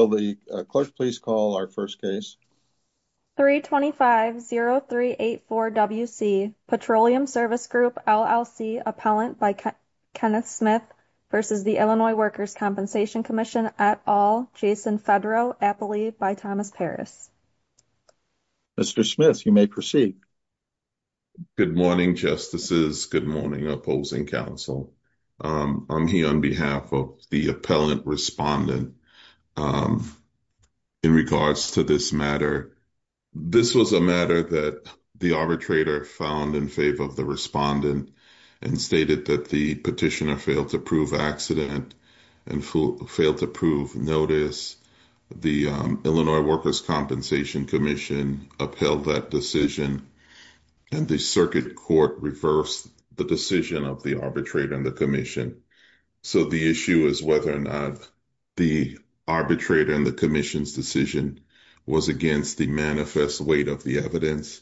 Good morning, Justices. Good morning, Opposing Council. I'm here on behalf of the Appellant Respondent in regards to this matter. This was a matter that the Arbitrator found in favor of the Respondent and stated that the Petitioner failed to prove accident and failed to prove notice. The Illinois Workers' Compensation Commission upheld that decision and the Circuit Court reversed the decision of the Arbitrator and the Commission. So the issue is whether or not the Arbitrator and the Commission's decision was against the manifest weight of the evidence.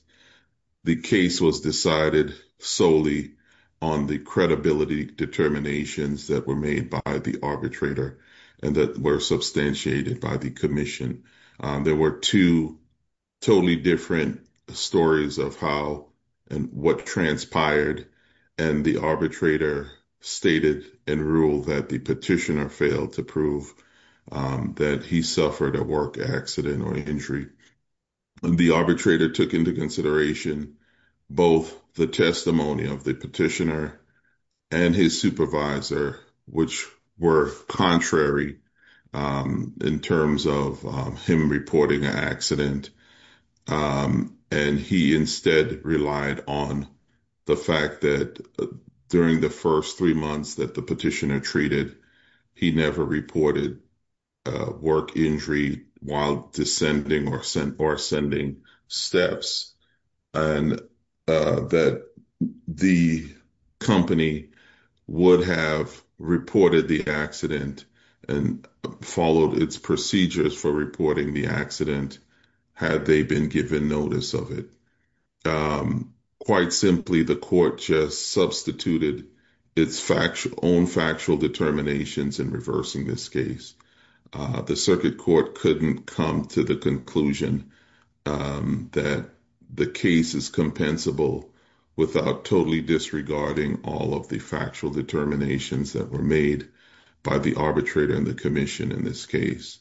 The case was decided solely on the credibility determinations that were made by the Arbitrator and that were substantiated by the Commission. There were two totally different stories of how and what transpired and the Arbitrator stated and ruled that the Petitioner failed to prove that he suffered a work accident or injury. The Arbitrator took into consideration both the testimony of the Petitioner and his Supervisor, which were contrary in terms of him reporting an accident and he instead relied on the fact that during the first three months that the Petitioner treated, he never reported a work injury while or ascending steps and that the company would have reported the accident and followed its procedures for reporting the accident had they been given notice of it. Quite simply, the Court just substituted its own factual determinations in reversing this case. The Circuit Court couldn't come to the conclusion that the case is compensable without totally disregarding all of the factual determinations that were made by the Arbitrator and the Commission in this case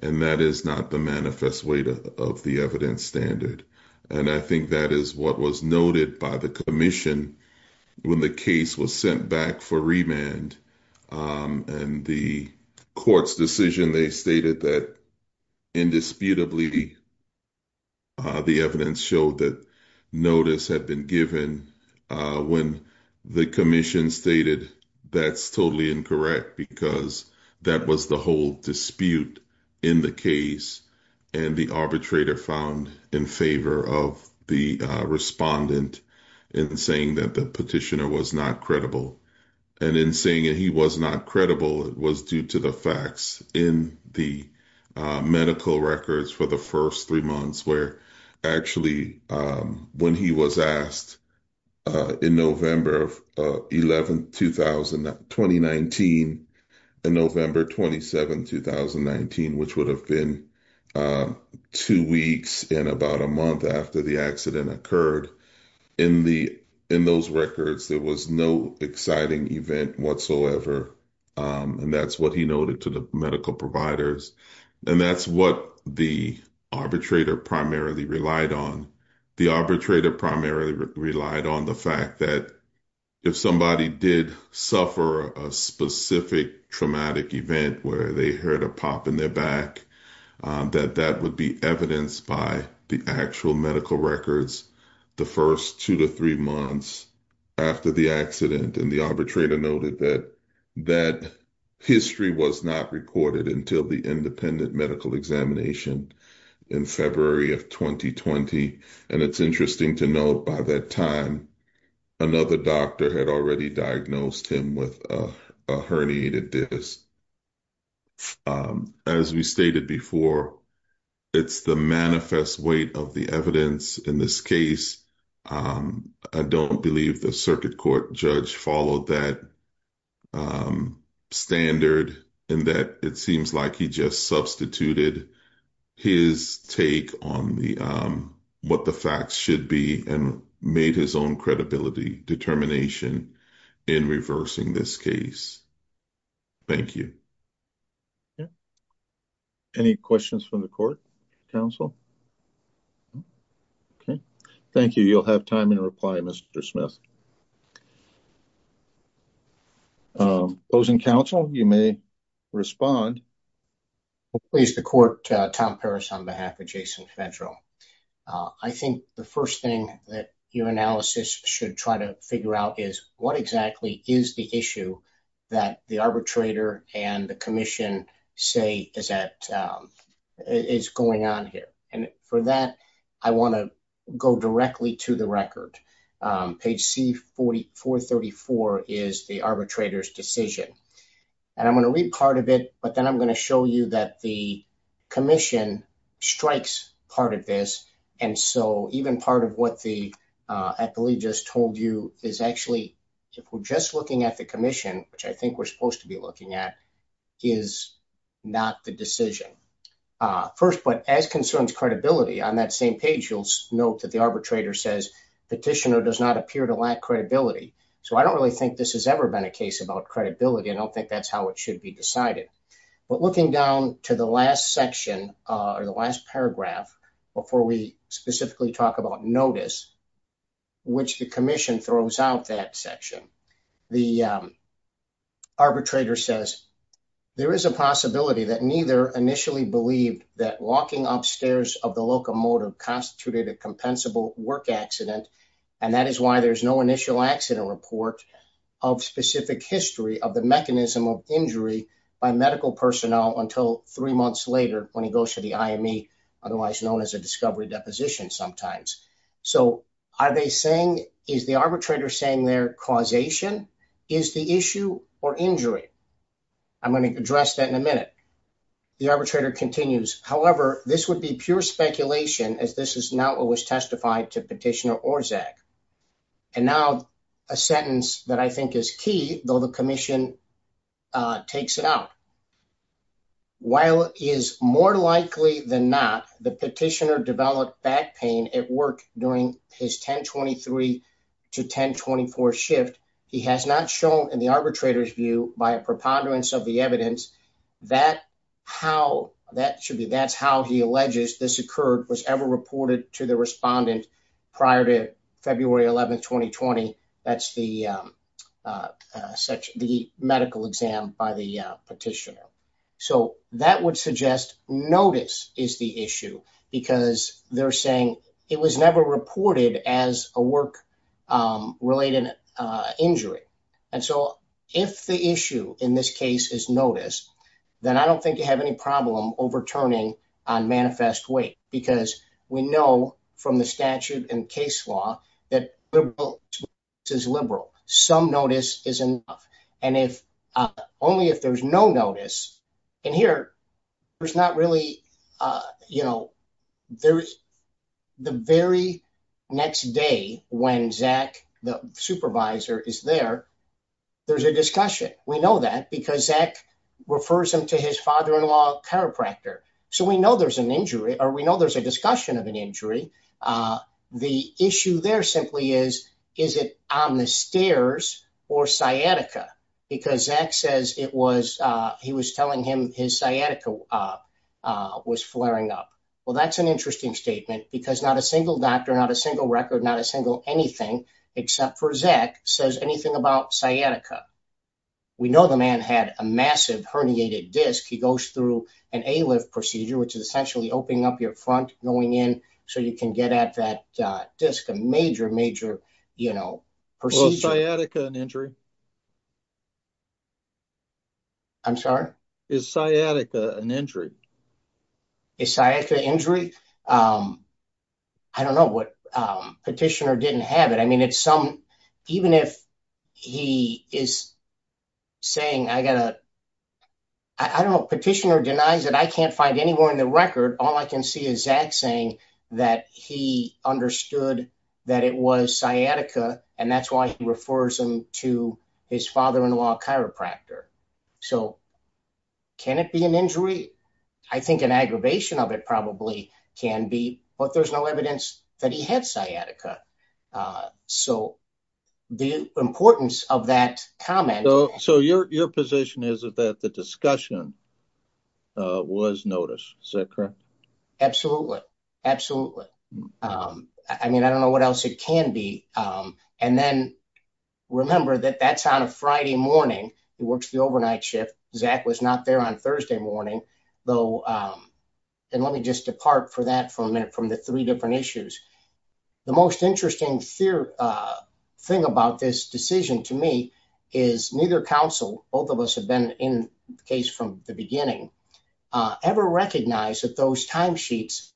and that is not the manifest weight of the evidence standard and I think that is what was noted by the Commission when the case was sent back for remand and the Court's decision they stated that indisputably the evidence showed that notice had been given when the Commission stated that's totally incorrect because that was the whole dispute in the case and the Arbitrator found in favor of the Respondent in saying that the Petitioner was not credible and in saying that he was not credible it was due to the facts in the medical records for the first three months where actually when he was asked in November 11, 2019 and November 27, 2019, which would have been two weeks and about a month after the accident occurred, in those records there was no exciting event whatsoever and that's what he noted to the medical providers and that's what the Arbitrator primarily relied on. The Arbitrator primarily relied on the fact that if somebody did suffer a specific traumatic event where they heard a pop in their back that that would be evidenced by the actual medical records the first two to three months after the accident and the Arbitrator noted that that history was not recorded until the independent medical examination in February of 2020 and it's interesting to note by that time another doctor had already diagnosed him with a herniated disc. As we stated before, it's the manifest weight of the evidence in this case. I don't believe the Circuit Court Judge followed that standard in that it seems like he just substituted his take on what the facts should be and made his own credibility determination in reversing this case. Thank you. Any questions from the court, counsel? Okay, thank you. You'll have time in reply, Mr. Smith. Opposing counsel, you may respond. Please, the court, Tom Paris on behalf of Jason Federal. I think the first thing that your analysis should try to figure out is what exactly is the issue that the Arbitrator and the Commission say is that is going on here and for that I want to go directly to the record. Page C434 is the Arbitrator's decision and I'm going to read part of it but then I'm going to that the Commission strikes part of this and so even part of what I believe just told you is actually if we're just looking at the Commission, which I think we're supposed to be looking at, is not the decision. First, but as concerns credibility on that same page, you'll note that the Arbitrator says Petitioner does not appear to lack credibility so I don't really think this has ever been a case about credibility. I don't think that's how it should be decided but looking down to the last section or the last paragraph before we specifically talk about notice, which the Commission throws out that section, the Arbitrator says there is a possibility that neither initially believed that walking upstairs of the locomotive constituted a compensable work accident and that is why there's no initial accident report of specific history of the mechanism of injury by medical personnel until three months later when he goes to the IME, otherwise known as a discovery deposition sometimes. So are they saying, is the Arbitrator saying their causation is the issue or injury? I'm going to address that in a minute. The Arbitrator continues, however, this would be pure speculation as this is not what was testified to Petitioner and now a sentence that I think is key, though the Commission takes it out. While it is more likely than not the Petitioner developed back pain at work during his 1023 to 1024 shift, he has not shown in the Arbitrator's view by a preponderance of the evidence that how that should be, that's how he alleges this occurred was ever reported to the Respondent prior to February 11, 2020. That's the medical exam by the Petitioner. So that would suggest notice is the issue because they're saying it was never reported as a work-related injury. And so if the issue in this case is notice, then I don't think you have any problem overturning on manifest weight because we know from the statute and case law that is liberal. Some notice is enough. And if only if there's no notice in here, there's not really, you know, there's the very next day when Zach, the Supervisor is there, there's a discussion. We know that because Zach refers him to his father-in-law, chiropractor. So we know there's an injury or we know there's a discussion of an injury. The issue there simply is, is it on the stairs or sciatica? Because Zach says he was telling him his sciatica was flaring up. Well, that's an interesting statement because not a single doctor, not a single record, not a single anything except for Zach says anything about sciatica. We know the man had a massive herniated disc. He goes through an A-lift procedure, which is essentially opening up your front, going in so you can get at that disc, a major, major, you know, procedure. Is sciatica an injury? I'm sorry? Is sciatica an injury? Is sciatica an injury? I don't know what petitioner didn't have it. I mean, it's some, even if he is saying I got to, I don't know, petitioner denies it. I can't find anywhere in the record. All I can see is Zach saying that he understood that it was sciatica and that's why he refers him to his father-in-law, chiropractor. So can it be an injury? I think an aggravation of it probably can be, but there's no evidence that he had sciatica. So the importance of that comment. So your position is that the discussion was noticed. Is that correct? Absolutely. Absolutely. I mean, I don't know what else it can be. And then remember that that's on a Friday morning. It works the overnight shift. Zach was not there on Thursday morning though. And let me just depart for that for a minute from the three different issues. The most interesting thing about this decision to me is neither council, both of us have been in the case from the beginning, ever recognized that those timesheets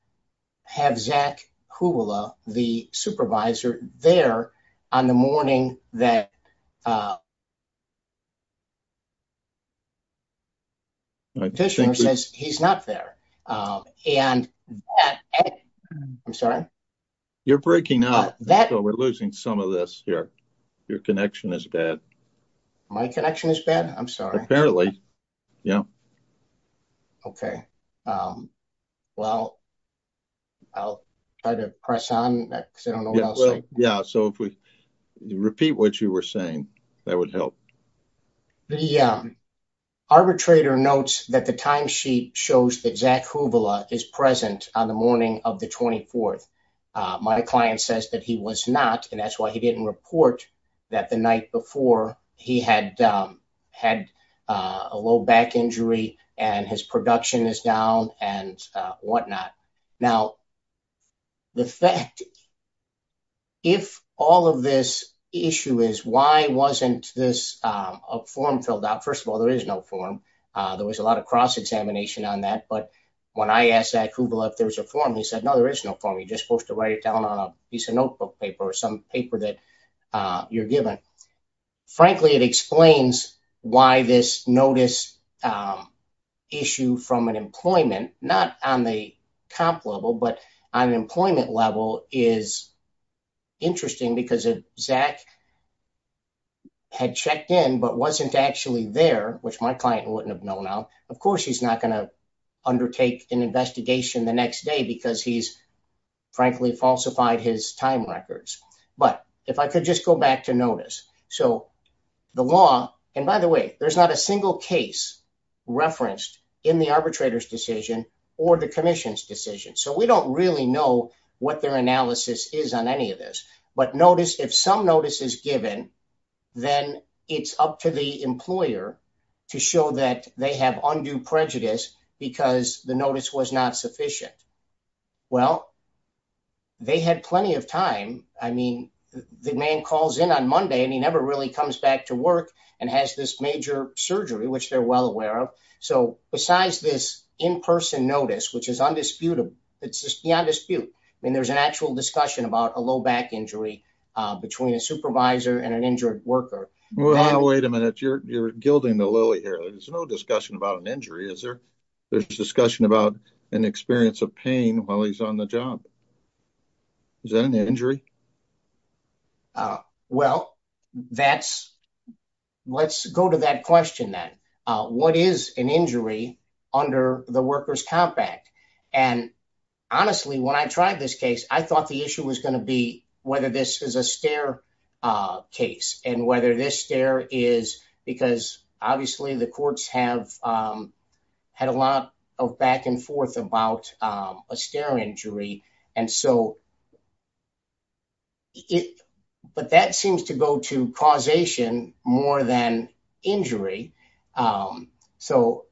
have Zach Kuvula, the supervisor there on the morning that uh, he's not there. Um, and I'm sorry, you're breaking up that we're losing some of this here. Your connection is bad. My connection is bad. I'm sorry. Apparently. Yeah. Okay. Um, well, I'll try to press on that because I don't know what else. Yeah. So if we repeat what you were saying, that would help. The arbitrator notes that the timesheet shows that Zach Kuvula is present on the morning of the 24th. Uh, my client says that he was not, and that's why he didn't report that the night before he had, um, had a low back injury and his production is down and whatnot. Now the fact, if all of this issue is why wasn't this, um, a form filled out? First of all, there is no form. Uh, there was a lot of cross-examination on that, but when I asked Zach Kuvula if there was a form, he said, no, there is no form. You're just supposed to write it down on a piece of notebook paper or some paper that, uh, you're given. Frankly, it explains why this notice, um, issue from an employment, not on the top level, but I'm employment level is interesting because of Zach had checked in, but wasn't actually there, which my client wouldn't have known. Now, of course, he's not going to undertake an investigation the next day because he's frankly falsified his time records. But if I could just go back to notice, so the law and by the way, there's not a single case referenced in the arbitrator's decision or the commission's decision. So we don't really know what their analysis is on any of this, but notice if some notice is given, then it's up to the employer to show that they have undue prejudice because the notice was not sufficient. Well, they had plenty of time. I mean, the man calls in on has this major surgery, which they're well aware of. So besides this in person notice, which is undisputed, it's just beyond dispute. I mean, there's an actual discussion about a low back injury between a supervisor and an injured worker. Wait a minute. You're, you're gilding the lily here. There's no discussion about an injury. Is there? There's discussion about an experience of pain while he's on the job. Is that an injury? Uh, well, that's, let's go to that question then. Uh, what is an injury under the workers compact? And honestly, when I tried this case, I thought the issue was going to be whether this is a stair, uh, case and whether this stair is because obviously the courts have, um, had a lot of back and forth about, um, a stair injury. And so it, but that seems to go to causation more than injury. Um, so,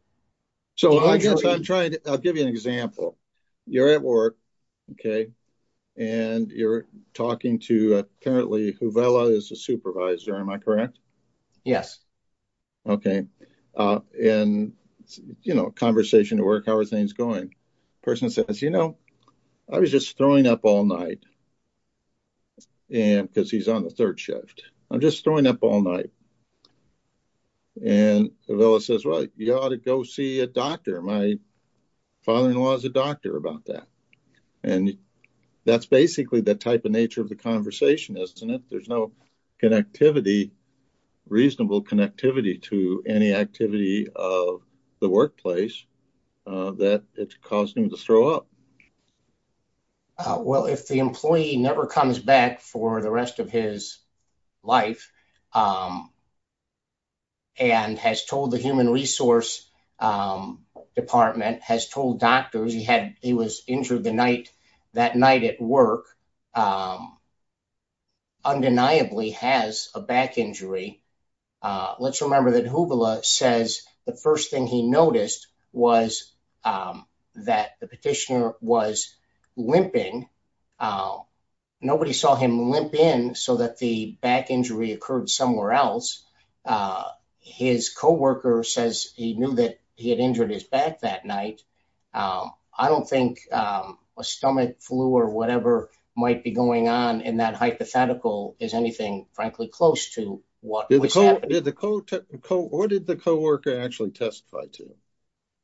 so I guess I'm trying to, I'll give you an example. You're at work. Okay. And you're talking to apparently who Vela is a supervisor. Am I correct? Yes. Okay. Uh, and you know, conversation to work, how are things going? Person says, you know, I was just throwing up all night and cause he's on the third shift. I'm just throwing up all night. And Vela says, well, you ought to go see a doctor. My father-in-law is a doctor about that. And that's basically the type of nature of the conversation, isn't it? There's no connectivity, reasonable connectivity to any activity of the workplace, uh, that it's causing him to throw up. Well, if the employee never comes back for the rest of his life, um, and has told the human resource, um, department has told doctors he had, he was injured the night that night at work, um, undeniably has a back injury. Uh, let's remember that who Vela says the first thing he noticed was, um, that the petitioner was limping. Uh, nobody saw him limp in so that the back injury occurred somewhere else. Uh, his coworker says he knew that he had injured his back that night. Um, I don't think, um, a stomach flu or whatever might be going on in that hypothetical is anything, frankly, close to what was happening. What did the coworker actually testify to?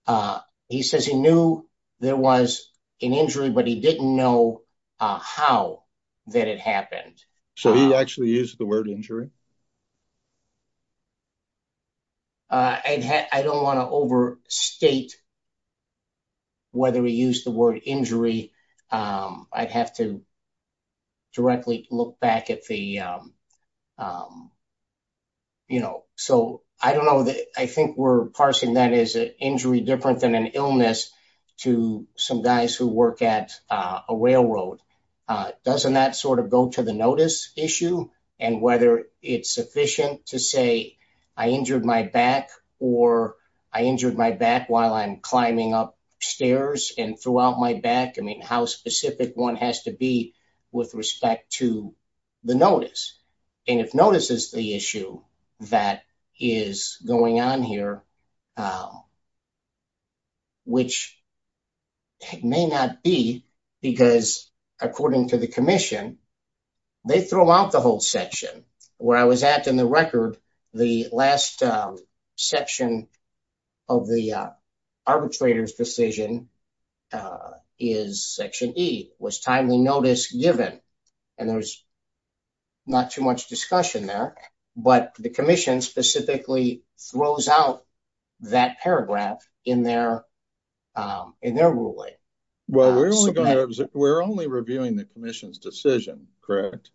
Uh, he says he knew there was an injury, but he didn't know, uh, how that it happened. So he actually used the word injury? Uh, I don't want to overstate whether we use the word injury. Um, I'd have to directly look back at the, um, um, you know, so I don't know that I think we're parsing that as an injury different than an illness to some guys who work at a railroad. Uh, doesn't that sort of go to the issue and whether it's sufficient to say I injured my back or I injured my back while I'm climbing up stairs and throughout my back. I mean, how specific one has to be with respect to the notice. And if notice is the issue that is going on here, um, which may not be because according to the commission, they throw out the whole section where I was at in the record, the last, um, section of the, uh, arbitrator's decision, uh, is section E was timely notice given. And there was not too much discussion there, but the commission specifically throws out that paragraph in their, um, in their ruling. We're only reviewing the commission's decision, correct?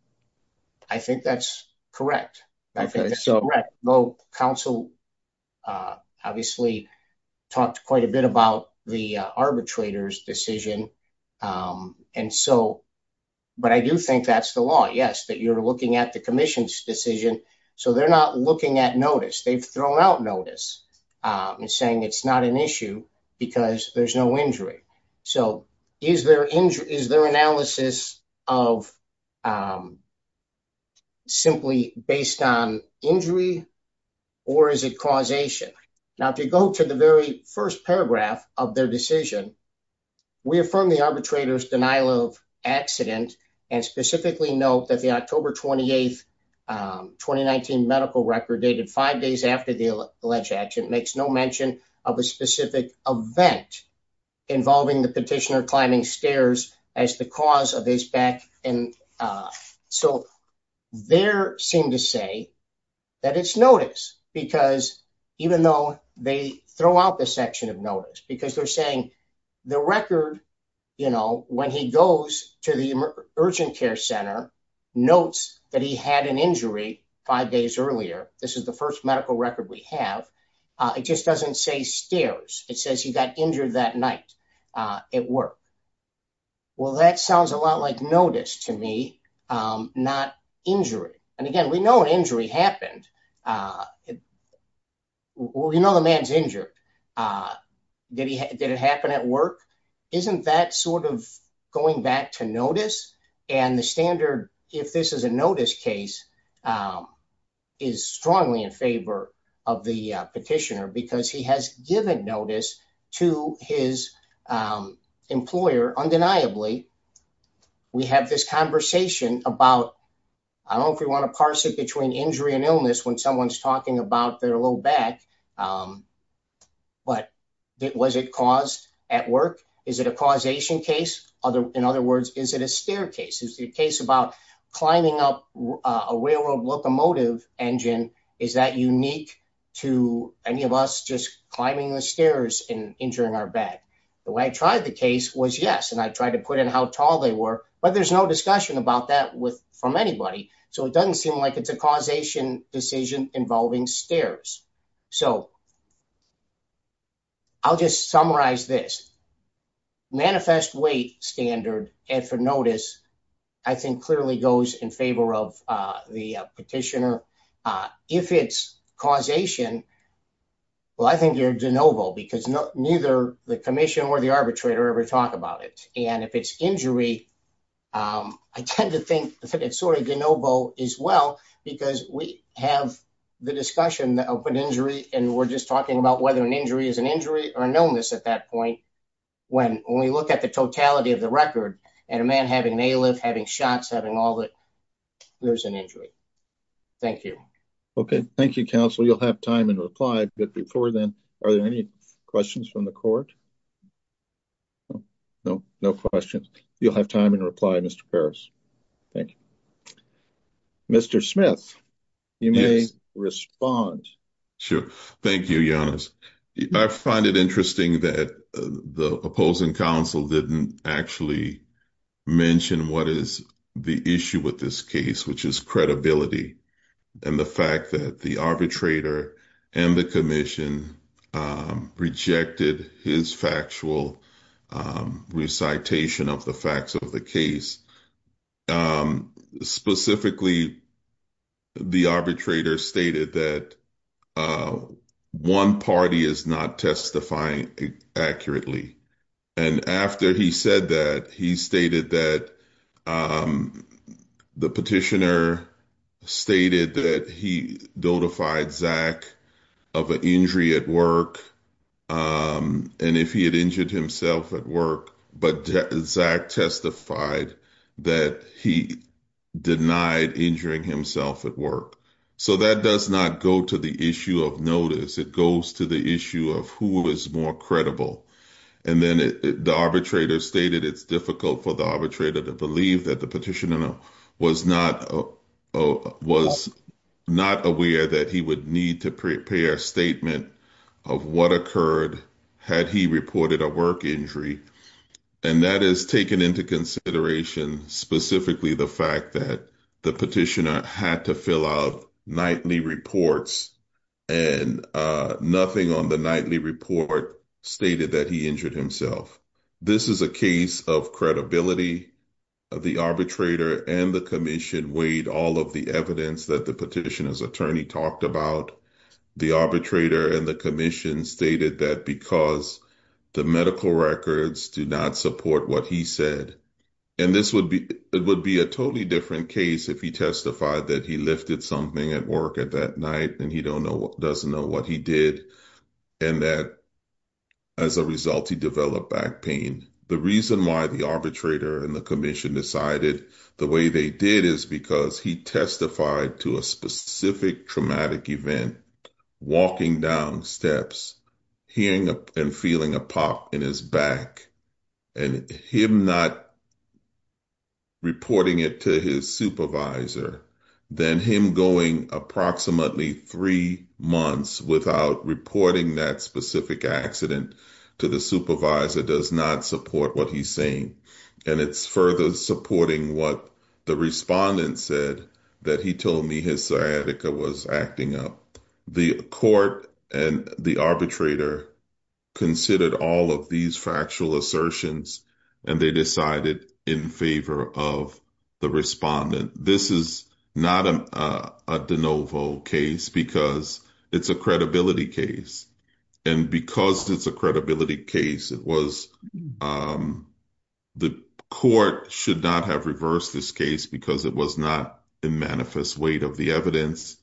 I think that's correct. I think that's correct. Though council, uh, obviously talked quite a bit about the arbitrator's decision. Um, and so, but I do think that's the law. Yes, that you're looking at the commission's decision, so they're not looking at notice. They've thrown out notice, um, and saying it's not an issue because there's no injury. So is there injury, is there analysis of, um, simply based on injury or is it causation? Now, if you go to the very first paragraph of their decision, we affirm the arbitrator's denial of accident and specifically note that the October 28th, um, 2019 medical record dated five days after the alleged action makes no mention of a specific event involving the petitioner climbing stairs as the cause of his back. And, uh, so there seem to say that it's notice because even though they throw out the section of notice, because they're saying the record, you know, when he goes to the urgent care center, notes that he had an injury five days earlier, this is the first medical record we have. It just doesn't say stairs. It says he got injured that night, uh, at work. Well, that sounds a lot like notice to me. Um, not injury. And again, we know an injury happened. Uh, well, you know, the man's injured. Uh, did he, did it happen at work? Isn't that sort of going back to notice? And the standard, if this is a notice case, um, is strongly in favor of the petitioner because he has given notice to his, um, employer undeniably. We have this conversation about, I don't know if we want to parse it between injury and illness, when someone's talking about their low back. Um, but it, was it caused at work? Is it a causation case? Other, in other words, is it a staircase? Is the case about climbing up a railroad locomotive engine? Is that unique to any of us just climbing the stairs and injuring our back? The way I tried the case was yes. And I tried to put in how tall they were, but there's no about that with, from anybody. So it doesn't seem like it's a causation decision involving stairs. So I'll just summarize this manifest weight standard and for notice, I think clearly goes in favor of, uh, the petitioner. Uh, if it's causation, well, I think you're de novo because neither the commission or the arbitrator ever talk about it. And if it's injury, um, I tend to think it's sort of de novo as well because we have the discussion that open injury, and we're just talking about whether an injury is an injury or an illness at that point. When, when we look at the totality of the record and a man having a lift, having shots, having all that, there's an injury. Thank you. Okay. Thank you, counsel. You'll have time and reply, but no, no questions. You'll have time and reply. Mr. Paris. Thank you, Mr. Smith. You may respond. Sure. Thank you. I find it interesting that the opposing council didn't actually mention what is the issue with this case, which is credibility and the fact that the arbitrator and the commission, um, rejected his factual, um, recitation of the facts of the case. Um, specifically the arbitrator stated that, uh, one party is not testifying accurately. And after he said that he stated that, um, the petitioner stated that he notified Zach of an injury at work. Um, and if he had injured himself at work, but Zach testified that he denied injuring himself at work. So that does not go to the issue of notice. It goes to the issue of who is more credible. And then the arbitrator stated it's difficult for the arbitrator to believe that the petitioner was not, uh, was not aware that he would need to prepare a statement of what occurred had he reported a work injury. And that is taken into consideration, specifically the fact that the petitioner had to fill out nightly reports and, uh, depending on the nightly report stated that he injured himself. This is a case of credibility. The arbitrator and the commission weighed all of the evidence that the petitioner's attorney talked about the arbitrator and the commission stated that because the medical records do not support what he said, and this would be, it would be a totally different case. If he testified that he lifted something at work at that night, and he don't know what doesn't know what he did. And that as a result, he developed back pain. The reason why the arbitrator and the commission decided the way they did is because he testified to a specific traumatic event, walking down steps, hearing and feeling a pop in his back and him not reporting it to his supervisor. Then him going approximately three months without reporting that specific accident to the supervisor does not support what he's saying. And it's further supporting what the respondent said that he told me his sciatica was acting up the court and the arbitrator considered all of these factual assertions. And they decided in favor of the respondent. This is not a de novo case because it's a credibility case. And because it's a credibility case, it was the court should not have reversed this case because it was not in manifest weight of the evidence,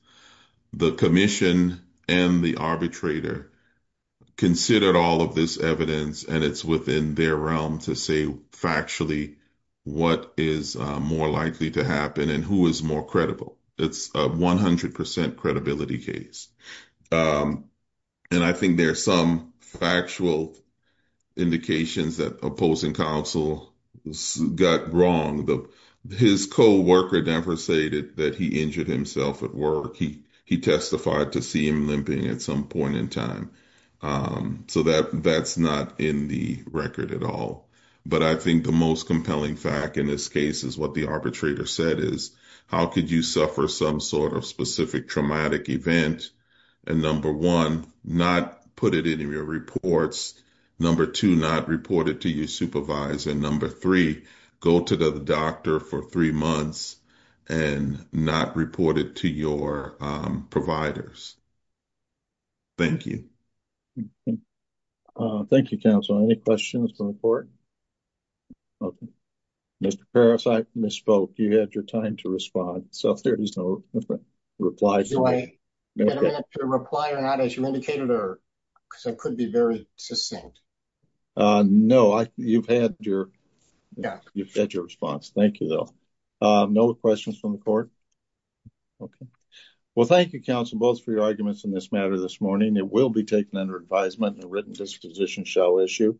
the commission and the arbitrator considered all of this evidence. And it's within their realm to say factually, what is more likely to happen and who is more credible. It's a 100% credibility case. And I think there's some factual indications that opposing counsel got wrong. His co-worker never stated that he injured himself at work. He testified to see him limping at some point in time. So that's not in the record at all. But I think the most compelling fact in this case is what the arbitrator said is, how could you suffer some sort of specific traumatic event? And number one, not put it in your reports. Number two, not reported to your supervisor. Number three, go to the doctor for three months and not reported to your providers. Thank you. Thank you, counsel. Any questions from the court? Okay. Mr. Paris, I misspoke. You had your time to respond. So there is no reply. Do I have to reply or not as you indicated or because I could be very succinct? No, you've had your response. Thank you, though. No questions from the court? Okay. Well, thank you, counsel, both for your arguments in this matter this morning. It will be taken under advisement and a written disposition shall issue.